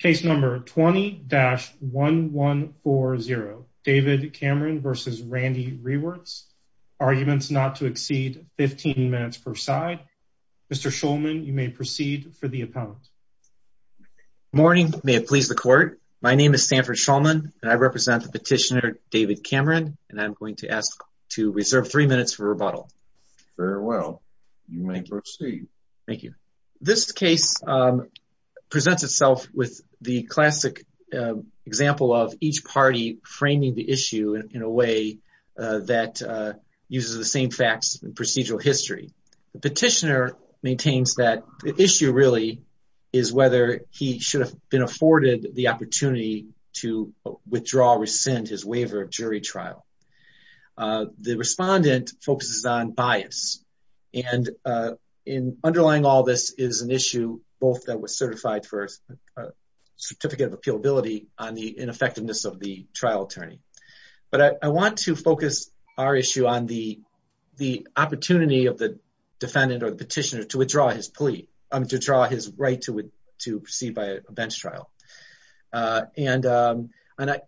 Case number 20-1140 David Cameron v. Randee Rewerts, arguments not to exceed 15 minutes per side. Mr. Shulman, you may proceed for the appellant. Morning, may it please the court. My name is Sanford Shulman and I represent the petitioner David Cameron and I'm going to ask to reserve three minutes for rebuttal. Very well, you may proceed. Thank you. This case presents itself with the classic example of each party framing the issue in a way that uses the same facts and procedural history. The petitioner maintains that the issue really is whether he should have been afforded the and in underlying all this is an issue both that was certified for a certificate of appealability on the ineffectiveness of the trial attorney. But I want to focus our issue on the opportunity of the defendant or the petitioner to withdraw his plea, to draw his right to proceed by a bench trial. And on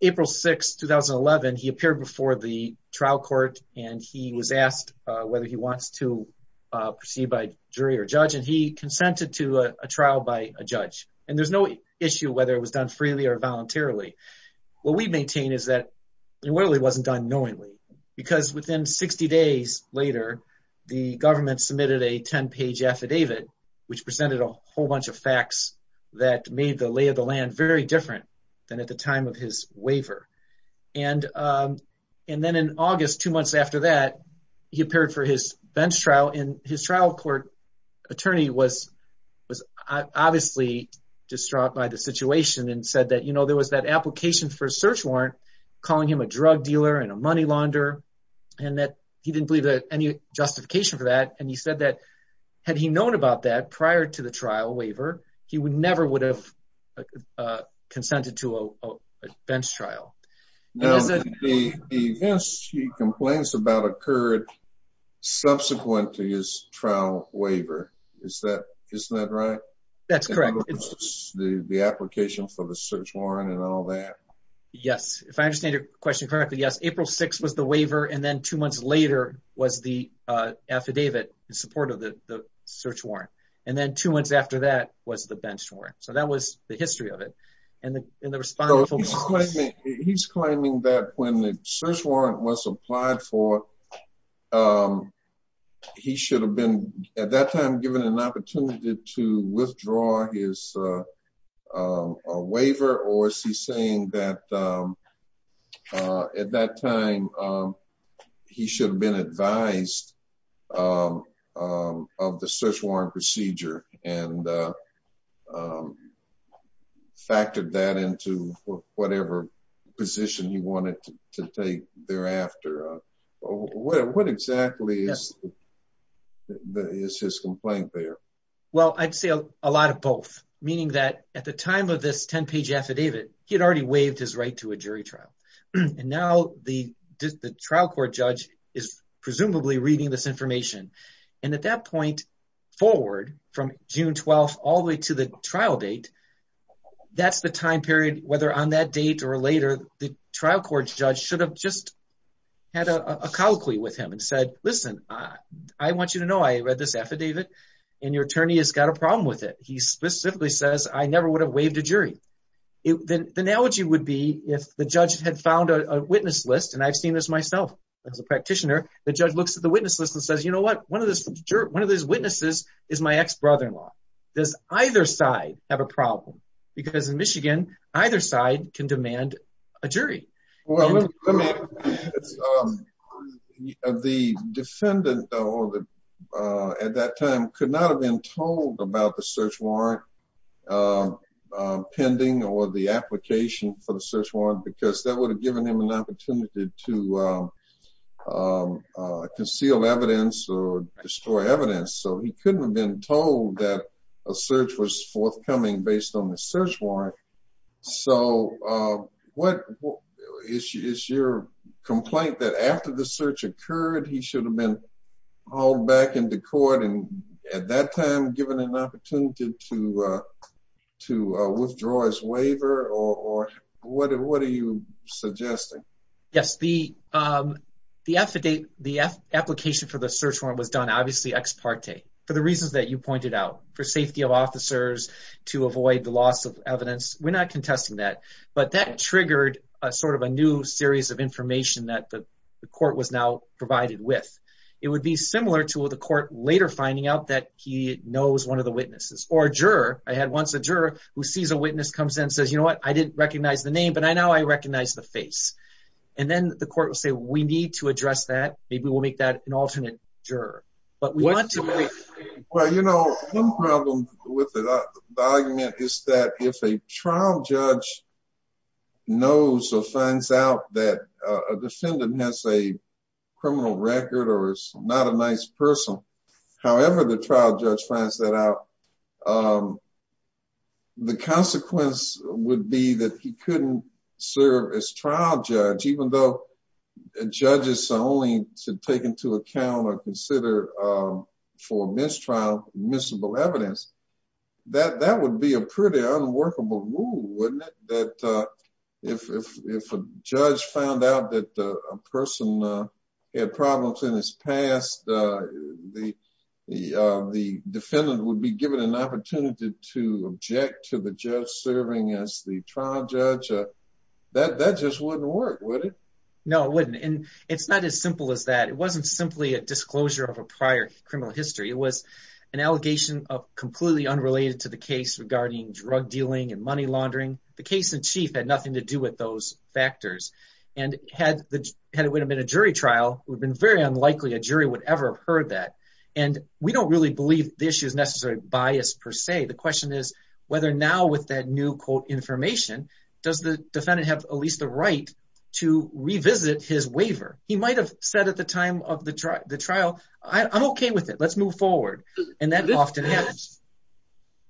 April 6, 2011, he appeared before the trial court and he was asked whether he wants to proceed by jury or judge. And he consented to a trial by a judge. And there's no issue whether it was done freely or voluntarily. What we maintain is that it really wasn't done knowingly. Because within 60 days later, the government submitted a 10-page affidavit, which presented a whole bunch of facts that made the lay of the land very different than at the time of his waiver. And then in August, two months after that, he appeared for his bench trial and his trial court attorney was obviously distraught by the situation and said that there was that application for a search warrant, calling him a drug dealer and a money launder. And that he didn't have any justification for that. And he said that had he known about that prior to the trial waiver, he never would have consented to a bench trial. Now, the events he complains about occurred subsequently his trial waiver. Isn't that right? That's correct. The application for the search warrant and all that? Yes. If I understand your question correctly, yes. April 6 was the waiver and then two months later was the affidavit in support of the search warrant. And then two months after that was the bench warrant. So that was the history of it. He's claiming that when the search warrant was applied for, he should have been at that time given an opportunity to he should have been advised of the search warrant procedure and factored that into whatever position he wanted to take thereafter. What exactly is his complaint there? Well, I'd say a lot of both, meaning that at the time of this 10-page affidavit, he had already waived his right to a jury trial. And now the trial court judge is presumably reading this information. And at that point forward from June 12, all the way to the trial date, that's the time period, whether on that date or later, the trial court judge should have just had a colloquy with him and said, listen, I want you to know I read this affidavit and your attorney has got a problem with it. He specifically says, I never would have waived a jury. The analogy would be if the judge had found a witness list, and I've seen this myself as a practitioner, the judge looks at the witness list and says, you know what, one of these witnesses is my ex-brother-in-law. Does either side have a problem? Because in Michigan, either side can demand a jury. Well, the defendant at that time could not have been told about the search warrant pending or the application for the search warrant because that would have given him an opportunity to conceal evidence or destroy evidence. So he couldn't have been told that search was forthcoming based on the search warrant. So what is your complaint that after the search occurred, he should have been hauled back into court and at that time given an opportunity to withdraw his waiver? Or what are you suggesting? Yes, the application for the search warrant. We're not contesting that, but that triggered a new series of information that the court was now provided with. It would be similar to the court later finding out that he knows one of the witnesses or a juror. I had once a juror who sees a witness comes in and says, you know what, I didn't recognize the name, but I now I recognize the face. And then the court will say, we need to address that. Maybe we'll make that an alternate juror. Well, you know, one problem with the argument is that if a trial judge knows or finds out that a defendant has a criminal record or is not a nice person, however, the trial judge finds that out, the consequence would be that he couldn't serve as trial judge, even though judges are only to take into account or consider for mistrial admissible evidence. That would be a pretty unworkable rule, wouldn't it? That if a judge found out that a person had problems in his past, the defendant would be that that just wouldn't work, would it? No, it wouldn't. And it's not as simple as that. It wasn't simply a disclosure of a prior criminal history. It was an allegation of completely unrelated to the case regarding drug dealing and money laundering. The case in chief had nothing to do with those factors. And had it would have been a jury trial, it would have been very unlikely a jury would ever have heard that. And we don't really believe the issue is necessarily biased per se. The question is whether now with that new quote information, does the defendant have at least the right to revisit his waiver? He might have said at the time of the trial, I'm OK with it. Let's move forward. And that often happens.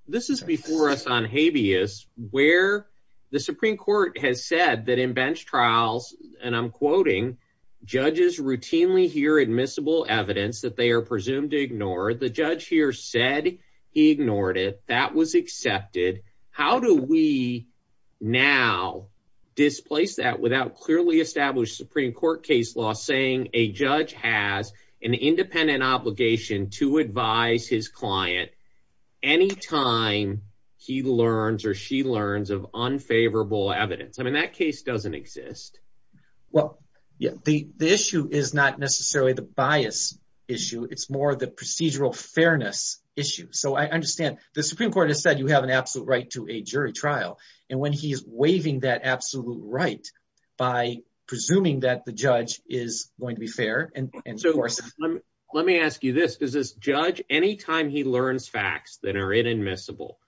This is before us on habeas where the Supreme Court has said that in bench trials, and I'm quoting, judges routinely hear admissible evidence that they are presumed to ignore. The judge here said he ignored it. That was accepted. How do we now displace that without clearly established Supreme Court case law saying a judge has an independent obligation to advise his client any time he learns or she learns of unfavorable evidence? I mean, that case doesn't exist. Well, yeah, the issue is not necessarily the bias issue. It's more of the procedural fairness issue. So I understand the Supreme Court has said you have an absolute right to a jury trial. And when he is waiving that absolute right by presuming that the judge is going to be fair. And so let me ask you this. Is this judge any time he learns facts that are inadmissible?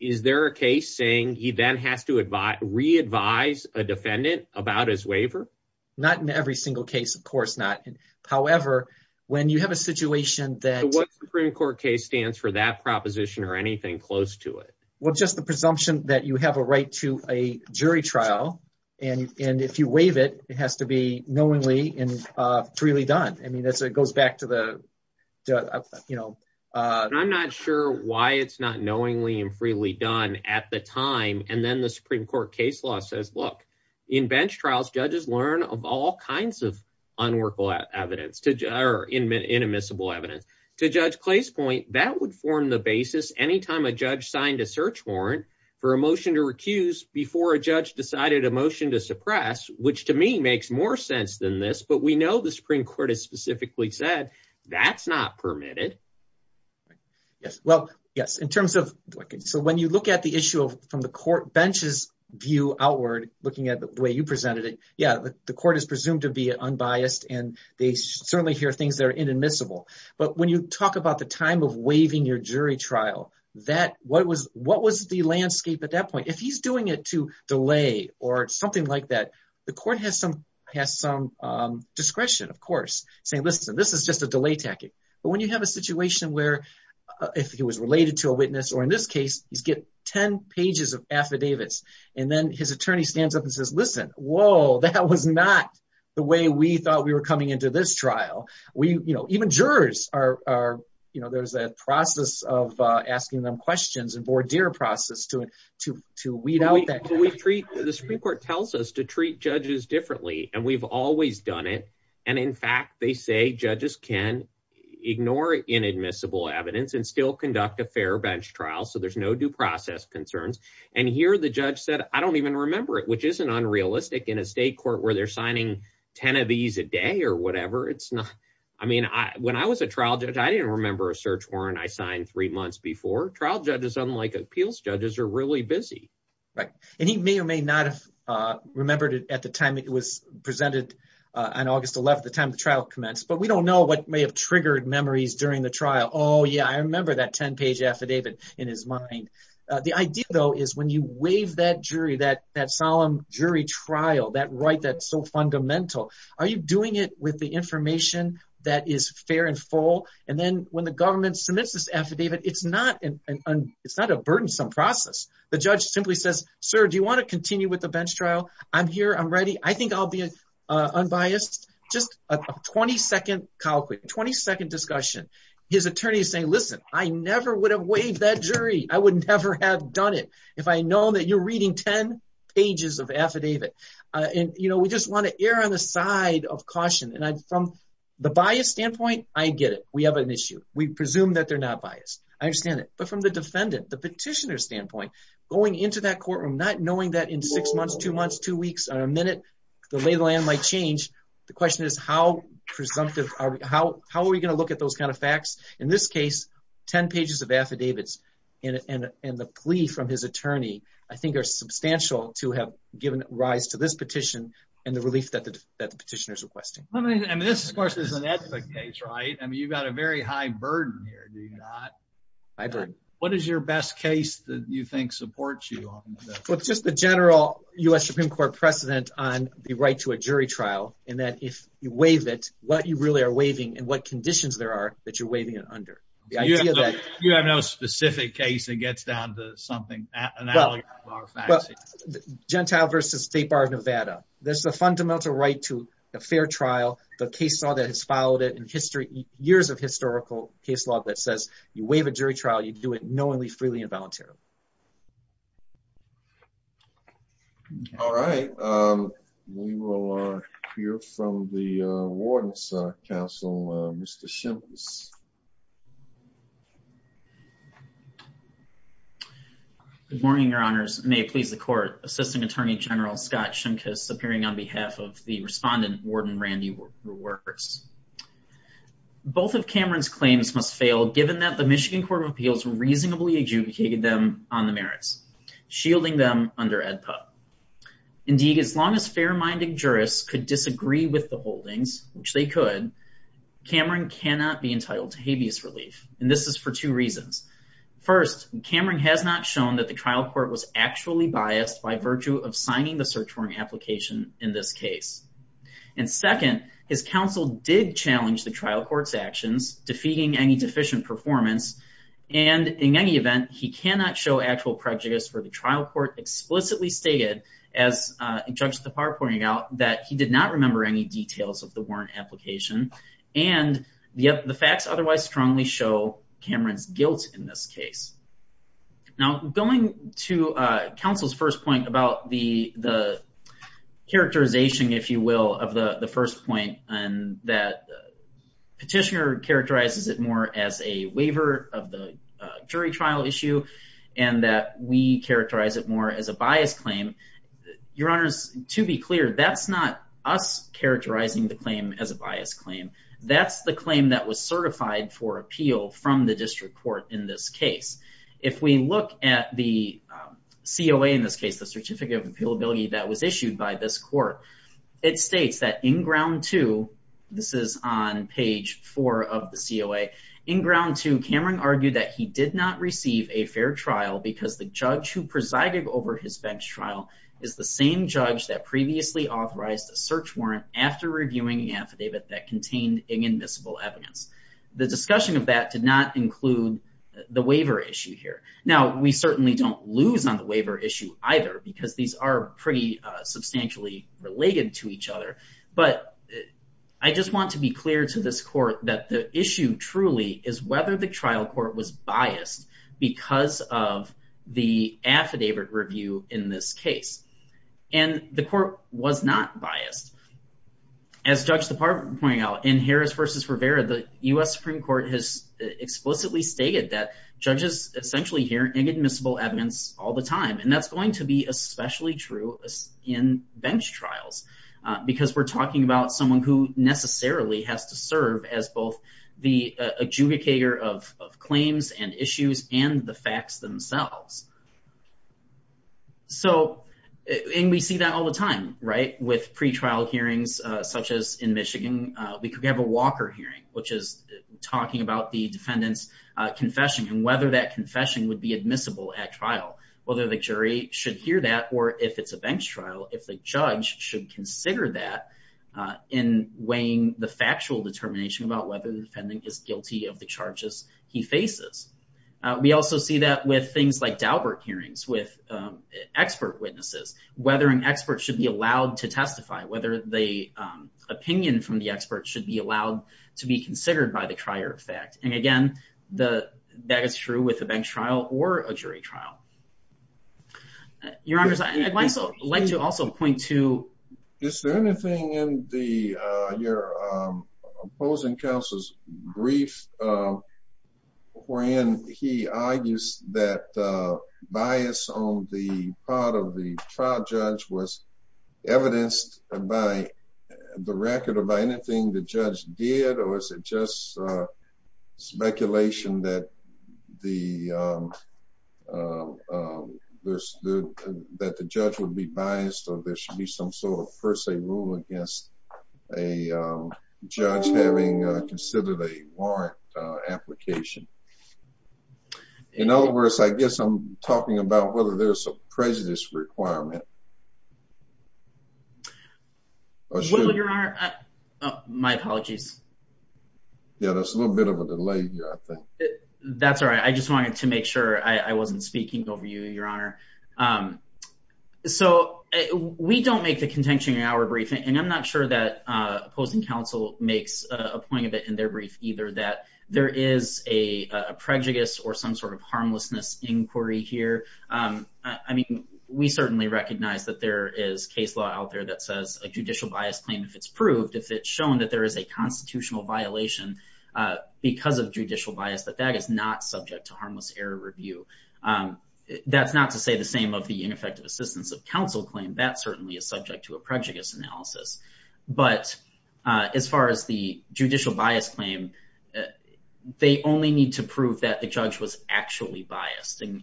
Is there a case saying he then has to re-advise a defendant about his waiver? Not in every single case, of course not. However, when you have a situation that. What Supreme Court case stands for that proposition or anything close to it? Well, just the presumption that you have a right to a jury trial. And if you waive it, it has to be knowingly and freely done. I mean, it goes back to the, you know. I'm not sure why it's not knowingly and freely done at the time. And then the Supreme Court case law says, look, in bench trials, judges learn of all kinds of unworkable evidence to or inadmissible evidence to Judge Clay's point that would form the basis anytime a judge signed a search warrant for a motion to recuse before a judge decided a motion to suppress, which to me makes more sense than this. But we know the Supreme Court has specifically said that's not permitted. Yes, well, yes, in terms of. So when you look at the issue from the court bench's view outward, looking at the way you presented it, yeah, the court is presumed to be unbiased, and they certainly hear things that are inadmissible. But when you talk about the time of waiving your jury trial, what was the landscape at that point? If he's doing it to delay or something like that, the court has some discretion, of course, saying, listen, this is just a delay tactic. But when you have a situation where if he was related to a witness, or in this case, he's get 10 pages of affidavits, and then his attorney stands up and says, listen, whoa, that was not the way we thought we were coming into this trial. We, you know, even jurors are, you know, there's a process of asking them questions and voir dire process to weed out that. The Supreme Court tells us to treat judges differently, and we've always done it. And in fact, they say judges can ignore inadmissible evidence and still conduct a fair bench trial. So there's no due process concerns. And here the judge said, I don't even remember it, which isn't unrealistic in a state court where they're signing 10 of these a day or whatever. It's not. I mean, when I was a trial judge, I didn't remember a search warrant I signed three months before. Trial judges, unlike appeals judges, are really busy. Right. And he may or may not have remembered it at the time it was presented on August 11th, the time the trial commenced. But we don't know what may have triggered memories during the trial. Oh, yeah, I remember that 10 page affidavit in his mind. The idea, though, is when you waive that jury, that that solemn jury trial, that right, that's so fundamental. Are you doing it with the information that is fair and full? And then when the government submits this affidavit, it's not an it's not a burdensome process. The judge simply says, sir, do you want to continue with the bench trial? I'm here. I'm ready. I think I'll be unbiased. Just a 20 second calculate, 20 second discussion. His attorney is saying, listen, I never would have waived that jury. I would never have done it if I know that you're reading 10 pages of affidavit. And, you know, we just want to err on the side of caution. And from the bias standpoint, I get it. We have an issue. We presume that they're not biased. I understand it. But from the defendant, the petitioner standpoint, going into that courtroom, not knowing that in six months, two months, two weeks or a minute, the lay of the land might change. The question is, how presumptive are we? How are we going to look at those kind of facts? In this case, 10 pages of affidavits and the plea from his attorney, I think, are substantial to have given rise to this petition and the relief that the petitioner is requesting. And this, of course, is an ethnic case, right? I mean, you've got a very high burden here, do you not? What is your best case that you think supports you? Well, it's just the general U.S. Supreme Court precedent on the right to a jury trial, and that if you waive it, what you really are waiving and what conditions there are that you're waiving it under. You have no specific case that gets down to something? Well, Gentile v. State Bar of Nevada. There's the fundamental right to a fair trial, the case law that has followed it in years of historical case law that says, you waive a jury trial, you do it knowingly, freely, and voluntarily. All right. We will hear from the Warden's Council, Mr. Shimkus. Good morning, Your Honors. May it please the Court. Assistant Attorney General Scott Shimkus, appearing on behalf of the Respondent, Warden Randy Reworkers. Both of Cameron's claims must fail given that the Michigan Court of Appeals reasonably adjudicated them on the merits, shielding them under AEDPA. Indeed, as long as fair-minded jurists could disagree with the holdings, which they could, Cameron cannot be entitled to habeas relief. And this is for two reasons. First, Cameron has not shown that the trial court was actually biased by virtue of signing the search warrant application in this case. And second, his counsel did challenge the trial court's actions, defeating any deficient performance. And in any event, he cannot show actual prejudice for the trial court explicitly stated, as Judge Tappar pointed out, that he did not remember any details of the warrant application. And yet, the facts otherwise strongly show Cameron's guilt in this case. Now, going to counsel's first point about the characterization, if you will, of the first point, and that Petitioner characterizes it more as a waiver of the jury trial issue, and that we characterize it more as a bias claim. Your Honors, to be clear, that's not us characterizing the claim as a bias claim. That's the claim that was certified for appeal from the district court in this case. If we look at the COA in this case, the certificate of appealability that was issued by this court, it states that in ground two, this is on page four of the COA, in ground two, Cameron argued that he did not receive a fair trial because the judge who presided over his bench trial is the same judge that previously authorized a search warrant after reviewing the affidavit that contained inadmissible evidence. The discussion of that did not include the waiver issue here. Now, we certainly don't lose on the waiver issue either, because these are pretty substantially related to each other. But I just want to be clear to this court that the issue truly is whether the trial court was biased because of the affidavit review in this case, and the court was not biased. As Judge DeParle pointed out, in Harris v. Rivera, the U.S. Supreme Court has explicitly stated that judges essentially hear inadmissible evidence all the time, and that's going to be especially true in bench trials, because we're talking about someone who necessarily has to serve as both the adjudicator of claims and issues and the facts themselves. So, and we see that all the time, right? With pretrial hearings, such as in Michigan, we could have a Walker hearing, which is talking about the defendant's confession and whether that confession would be admissible at trial, whether the jury should hear that, or if it's a bench trial, whether the jury should consider that in weighing the factual determination about whether the defendant is guilty of the charges he faces. We also see that with things like Daubert hearings, with expert witnesses, whether an expert should be allowed to testify, whether the opinion from the expert should be allowed to be considered by the trier of fact. And again, that is true with anything in your opposing counsel's brief, when he argues that bias on the part of the trial judge was evidenced by the record or by anything the judge did, or is it just speculation that the that the judge would be biased or there should be some sort of per se rule against a judge having considered a warrant application. In other words, I guess I'm talking about whether there's a prejudice requirement. Well, Your Honor, my apologies. Yeah, there's a little bit of a delay here, I think. That's all right. I just wanted to make sure I wasn't speaking over you, Your Honor. So we don't make the contention in our briefing, and I'm not sure that opposing counsel makes a point of it in their brief either, that there is a prejudice or some sort of harmlessness inquiry here. I mean, we certainly recognize that there is case law out there that says a judicial bias claim, if it's proved, if it's shown that there is a constitutional violation, because of judicial bias, that that is not subject to harmless error review. That's not to say the same of the ineffective assistance of counsel claim. That certainly is subject to a prejudice analysis. But as far as the judicial bias claim, they only need to prove that the judge was actually biased. And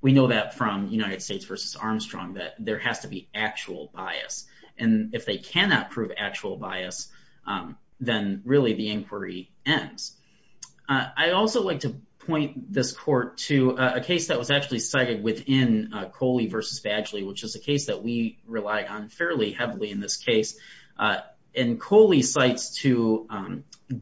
we know that from United States versus Armstrong, that there has to be actual bias. And if they cannot prove actual bias, then really the inquiry ends. I also like to point this court to a case that was actually cited within Coley versus Badgley, which is a case that we rely on fairly heavily in this case. And Coley cites to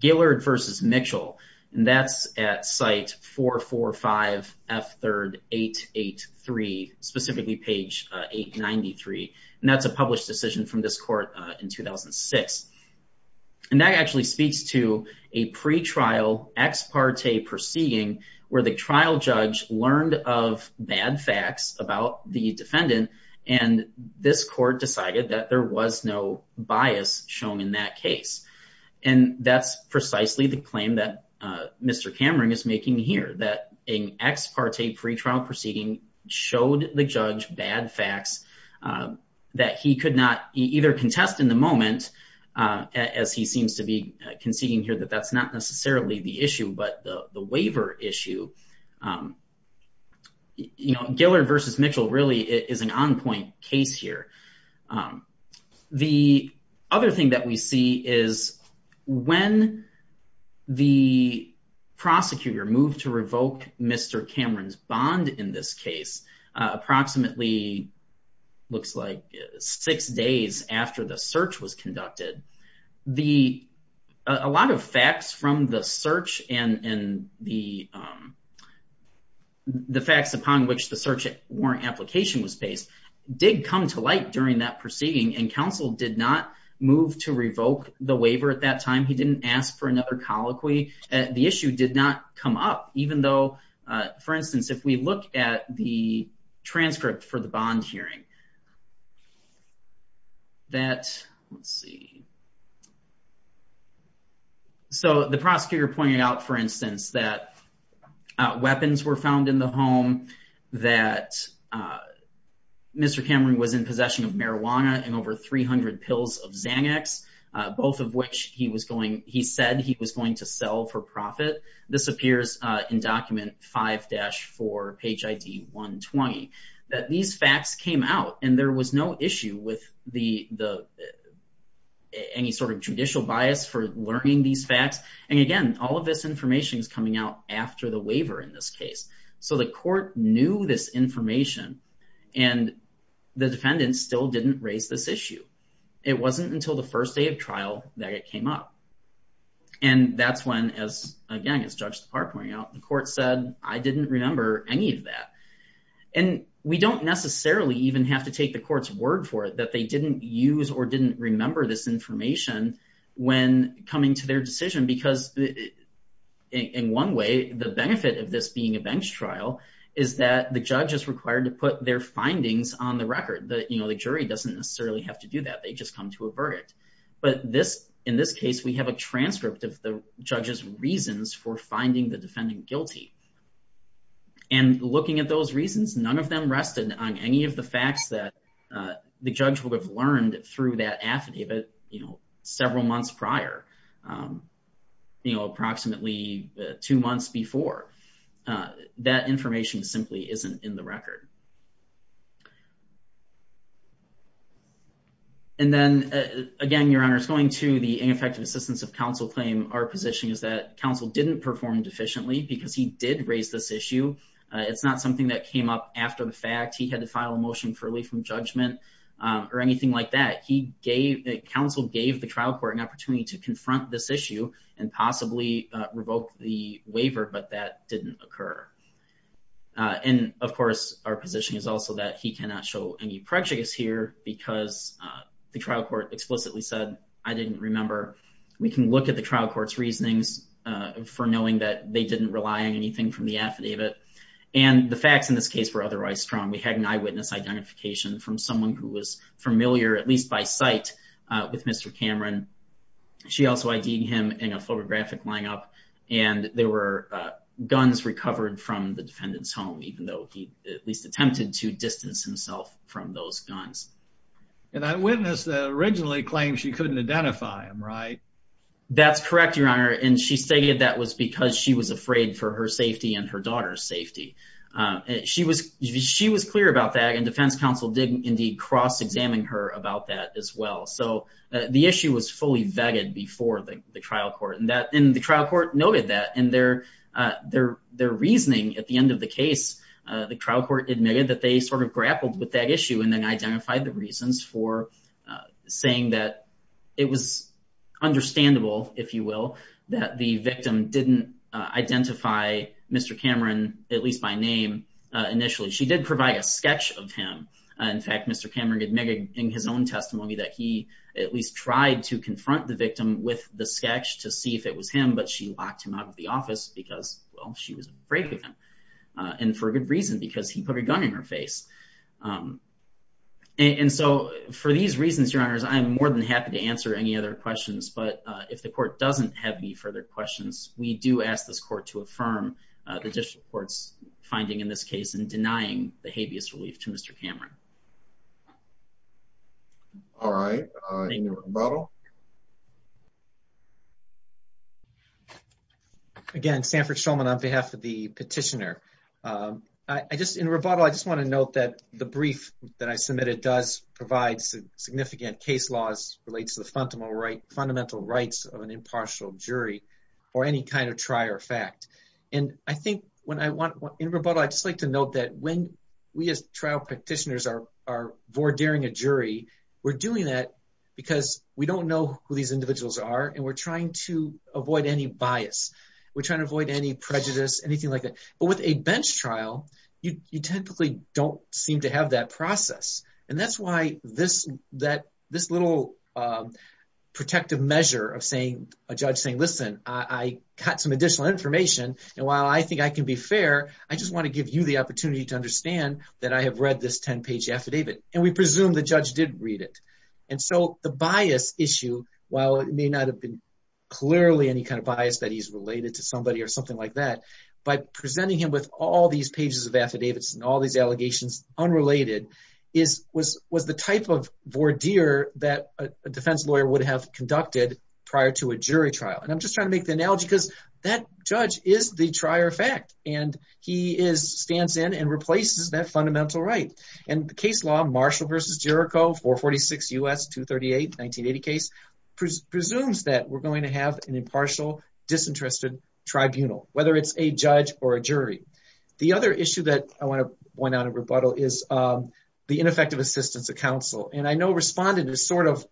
Gillard versus Mitchell, and that's at site 445 F3 883, specifically page 893. And that's a published decision from this court in 2006. And that actually speaks to a pretrial ex parte proceeding, where the trial judge learned of bad facts about the defendant. And this court decided that there was no bias shown in that case. And that's precisely the claim that Mr. Cameron is making here, that an ex parte pretrial proceeding showed the judge bad facts that he could not either contest in the moment, as he seems to be conceding here, that that's not necessarily the issue, but the waiver issue. You know, Gillard versus Mitchell really is an on point case here. The other thing that we see is when the prosecutor moved to revoke Mr. Cameron's bond in this case, approximately looks like six days after the search was conducted, a lot of facts from the search and the facts upon which the search warrant application was based, did come to light during that proceeding. And counsel did not move to revoke the waiver at that time. He didn't ask for another colloquy. The issue did not come up, even though, for instance, if we look at the transcript for the bond hearing, that, let's see. So the prosecutor pointed out, for instance, that weapons were found in the home, that Mr. Cameron was in possession of marijuana and over 300 pills of Xanax, both of which he said he was going to sell for profit. This appears in document 5-4, page ID 120, that these facts came out and there was no issue with any sort of judicial bias for learning these facts. And again, all of this information is coming out after the waiver in this case. So the court knew this the defendant still didn't raise this issue. It wasn't until the first day of trial that it came up. And that's when, as again, as Judge DePauw pointed out, the court said, I didn't remember any of that. And we don't necessarily even have to take the court's word for it that they didn't use or didn't remember this information when coming to their decision. Because in one way, the benefit of this being a bench trial is that the judge is required to put their findings on the record. The jury doesn't necessarily have to do that. They just come to a verdict. But in this case, we have a transcript of the judge's reasons for finding the defendant guilty. And looking at those reasons, none of them rested on any of the facts that the judge would have learned through that affidavit several months prior. You know, approximately two months before. That information simply isn't in the record. And then, again, Your Honor, it's going to the ineffective assistance of counsel claim. Our position is that counsel didn't perform deficiently because he did raise this issue. It's not something that came up after the fact. He had to file a motion for relief from judgment or anything like that. Counsel gave the trial court an opportunity to confront this issue and possibly revoke the waiver, but that didn't occur. And, of course, our position is also that he cannot show any prejudice here because the trial court explicitly said, I didn't remember. We can look at the trial court's reasonings for knowing that they didn't rely on anything from the affidavit. And the facts in this case were otherwise strong. We had an eyewitness identification from someone who was familiar, at least by sight, with Mr. Cameron. She also ID'd him in a photographic line-up, and there were guns recovered from the defendant's home, even though he at least attempted to distance himself from those guns. And that witness that originally claimed she couldn't identify him, right? That's correct, Your Honor, and she stated that was because she was afraid for her safety and her daughter's safety. She was clear about that, and defense counsel did indeed cross-examine her about that as well. So the issue was fully vetted before the trial court, and the trial court noted that. And their reasoning at the end of the case, the trial court admitted that they sort of grappled with that issue and then identified the reasons for saying that it was understandable, if you will, that the victim didn't identify Mr. Cameron, at least by name, initially. She did provide a sketch of him. In fact, Mr. Cameron admitted in his own testimony that he at least tried to confront the victim with the sketch to see if it was him, but she locked him out of the office because, well, she was afraid of him, and for good reason, because he put a gun in her face. And so for these reasons, Your Honors, I'm more than happy to answer any other questions, but if the court doesn't have any further questions, we do ask this court to affirm the district court's finding in this case in denying the habeas relief to Mr. Cameron. All right. In rebuttal? Again, Sanford Schulman on behalf of the petitioner. In rebuttal, I just want to note that the brief that I submitted does provide significant case laws, relates to the fundamental rights of an impartial jury or any kind of trier fact. In rebuttal, I'd just like to note that when we as trial petitioners are vordering a jury, we're doing that because we don't know who these individuals are, and we're trying to avoid any bias. We're trying to avoid any prejudice, anything like that. But with a bench trial, you typically don't seem to have that process. And that's why this little protective measure of a judge saying, listen, I got some additional information, and while I think I can be fair, I just want to give you the opportunity to understand that I have read this 10-page affidavit. And we presume the judge did read it. And so the bias issue, while it may not have been clearly any kind of bias that he's related to somebody or something like that, by presenting him with all these pages of affidavits and all these allegations unrelated, was the type of vordeer that a defense lawyer would have conducted prior to a jury trial. And I'm just trying to make the analogy because that judge is the trier fact, and he stands in and replaces that fundamental right. And the case law, Marshall v. Jericho, 446 U.S. 238, 1980 case, presumes that we're going to have an impartial disinterested tribunal, whether it's a judge or the ineffective assistance of counsel. And I know Respondent is sort of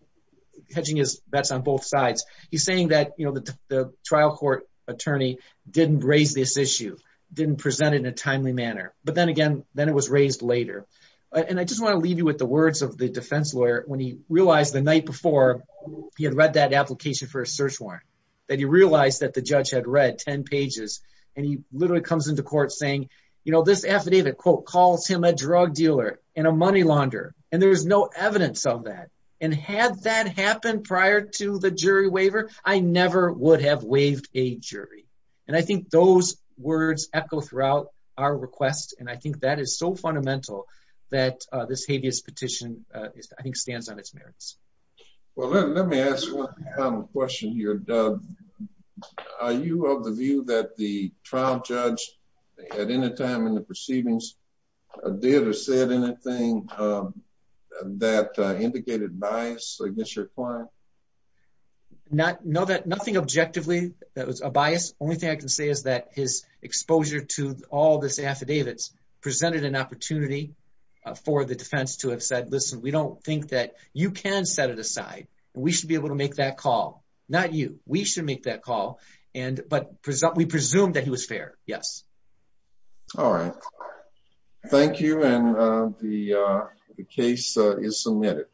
hedging his bets on both sides. He's saying that the trial court attorney didn't raise this issue, didn't present it in a timely manner. But then again, then it was raised later. And I just want to leave you with the words of the defense lawyer when he realized the night before he had read that application for a search warrant, that he realized that the judge had read 10 pages, and he literally comes into court saying, you know, this affidavit, quote, calls him a drug dealer and a money launder. And there's no evidence of that. And had that happened prior to the jury waiver, I never would have waived a jury. And I think those words echo throughout our request. And I think that is so fundamental that this habeas petition, I think, stands on its merits. Well, let me ask one final question here, Doug. Are you of the view that the trial judge at any time in the proceedings did or said anything that indicated bias against your client? No, nothing objectively that was a bias. Only thing I can say is that his exposure to all this affidavits presented an opportunity for the defense to have said, listen, we don't think that you can set it aside. And we should be able to make that call. Not you. We should make that call. And but we presume that he was fair. Yes. All right. Thank you. And the case is submitted.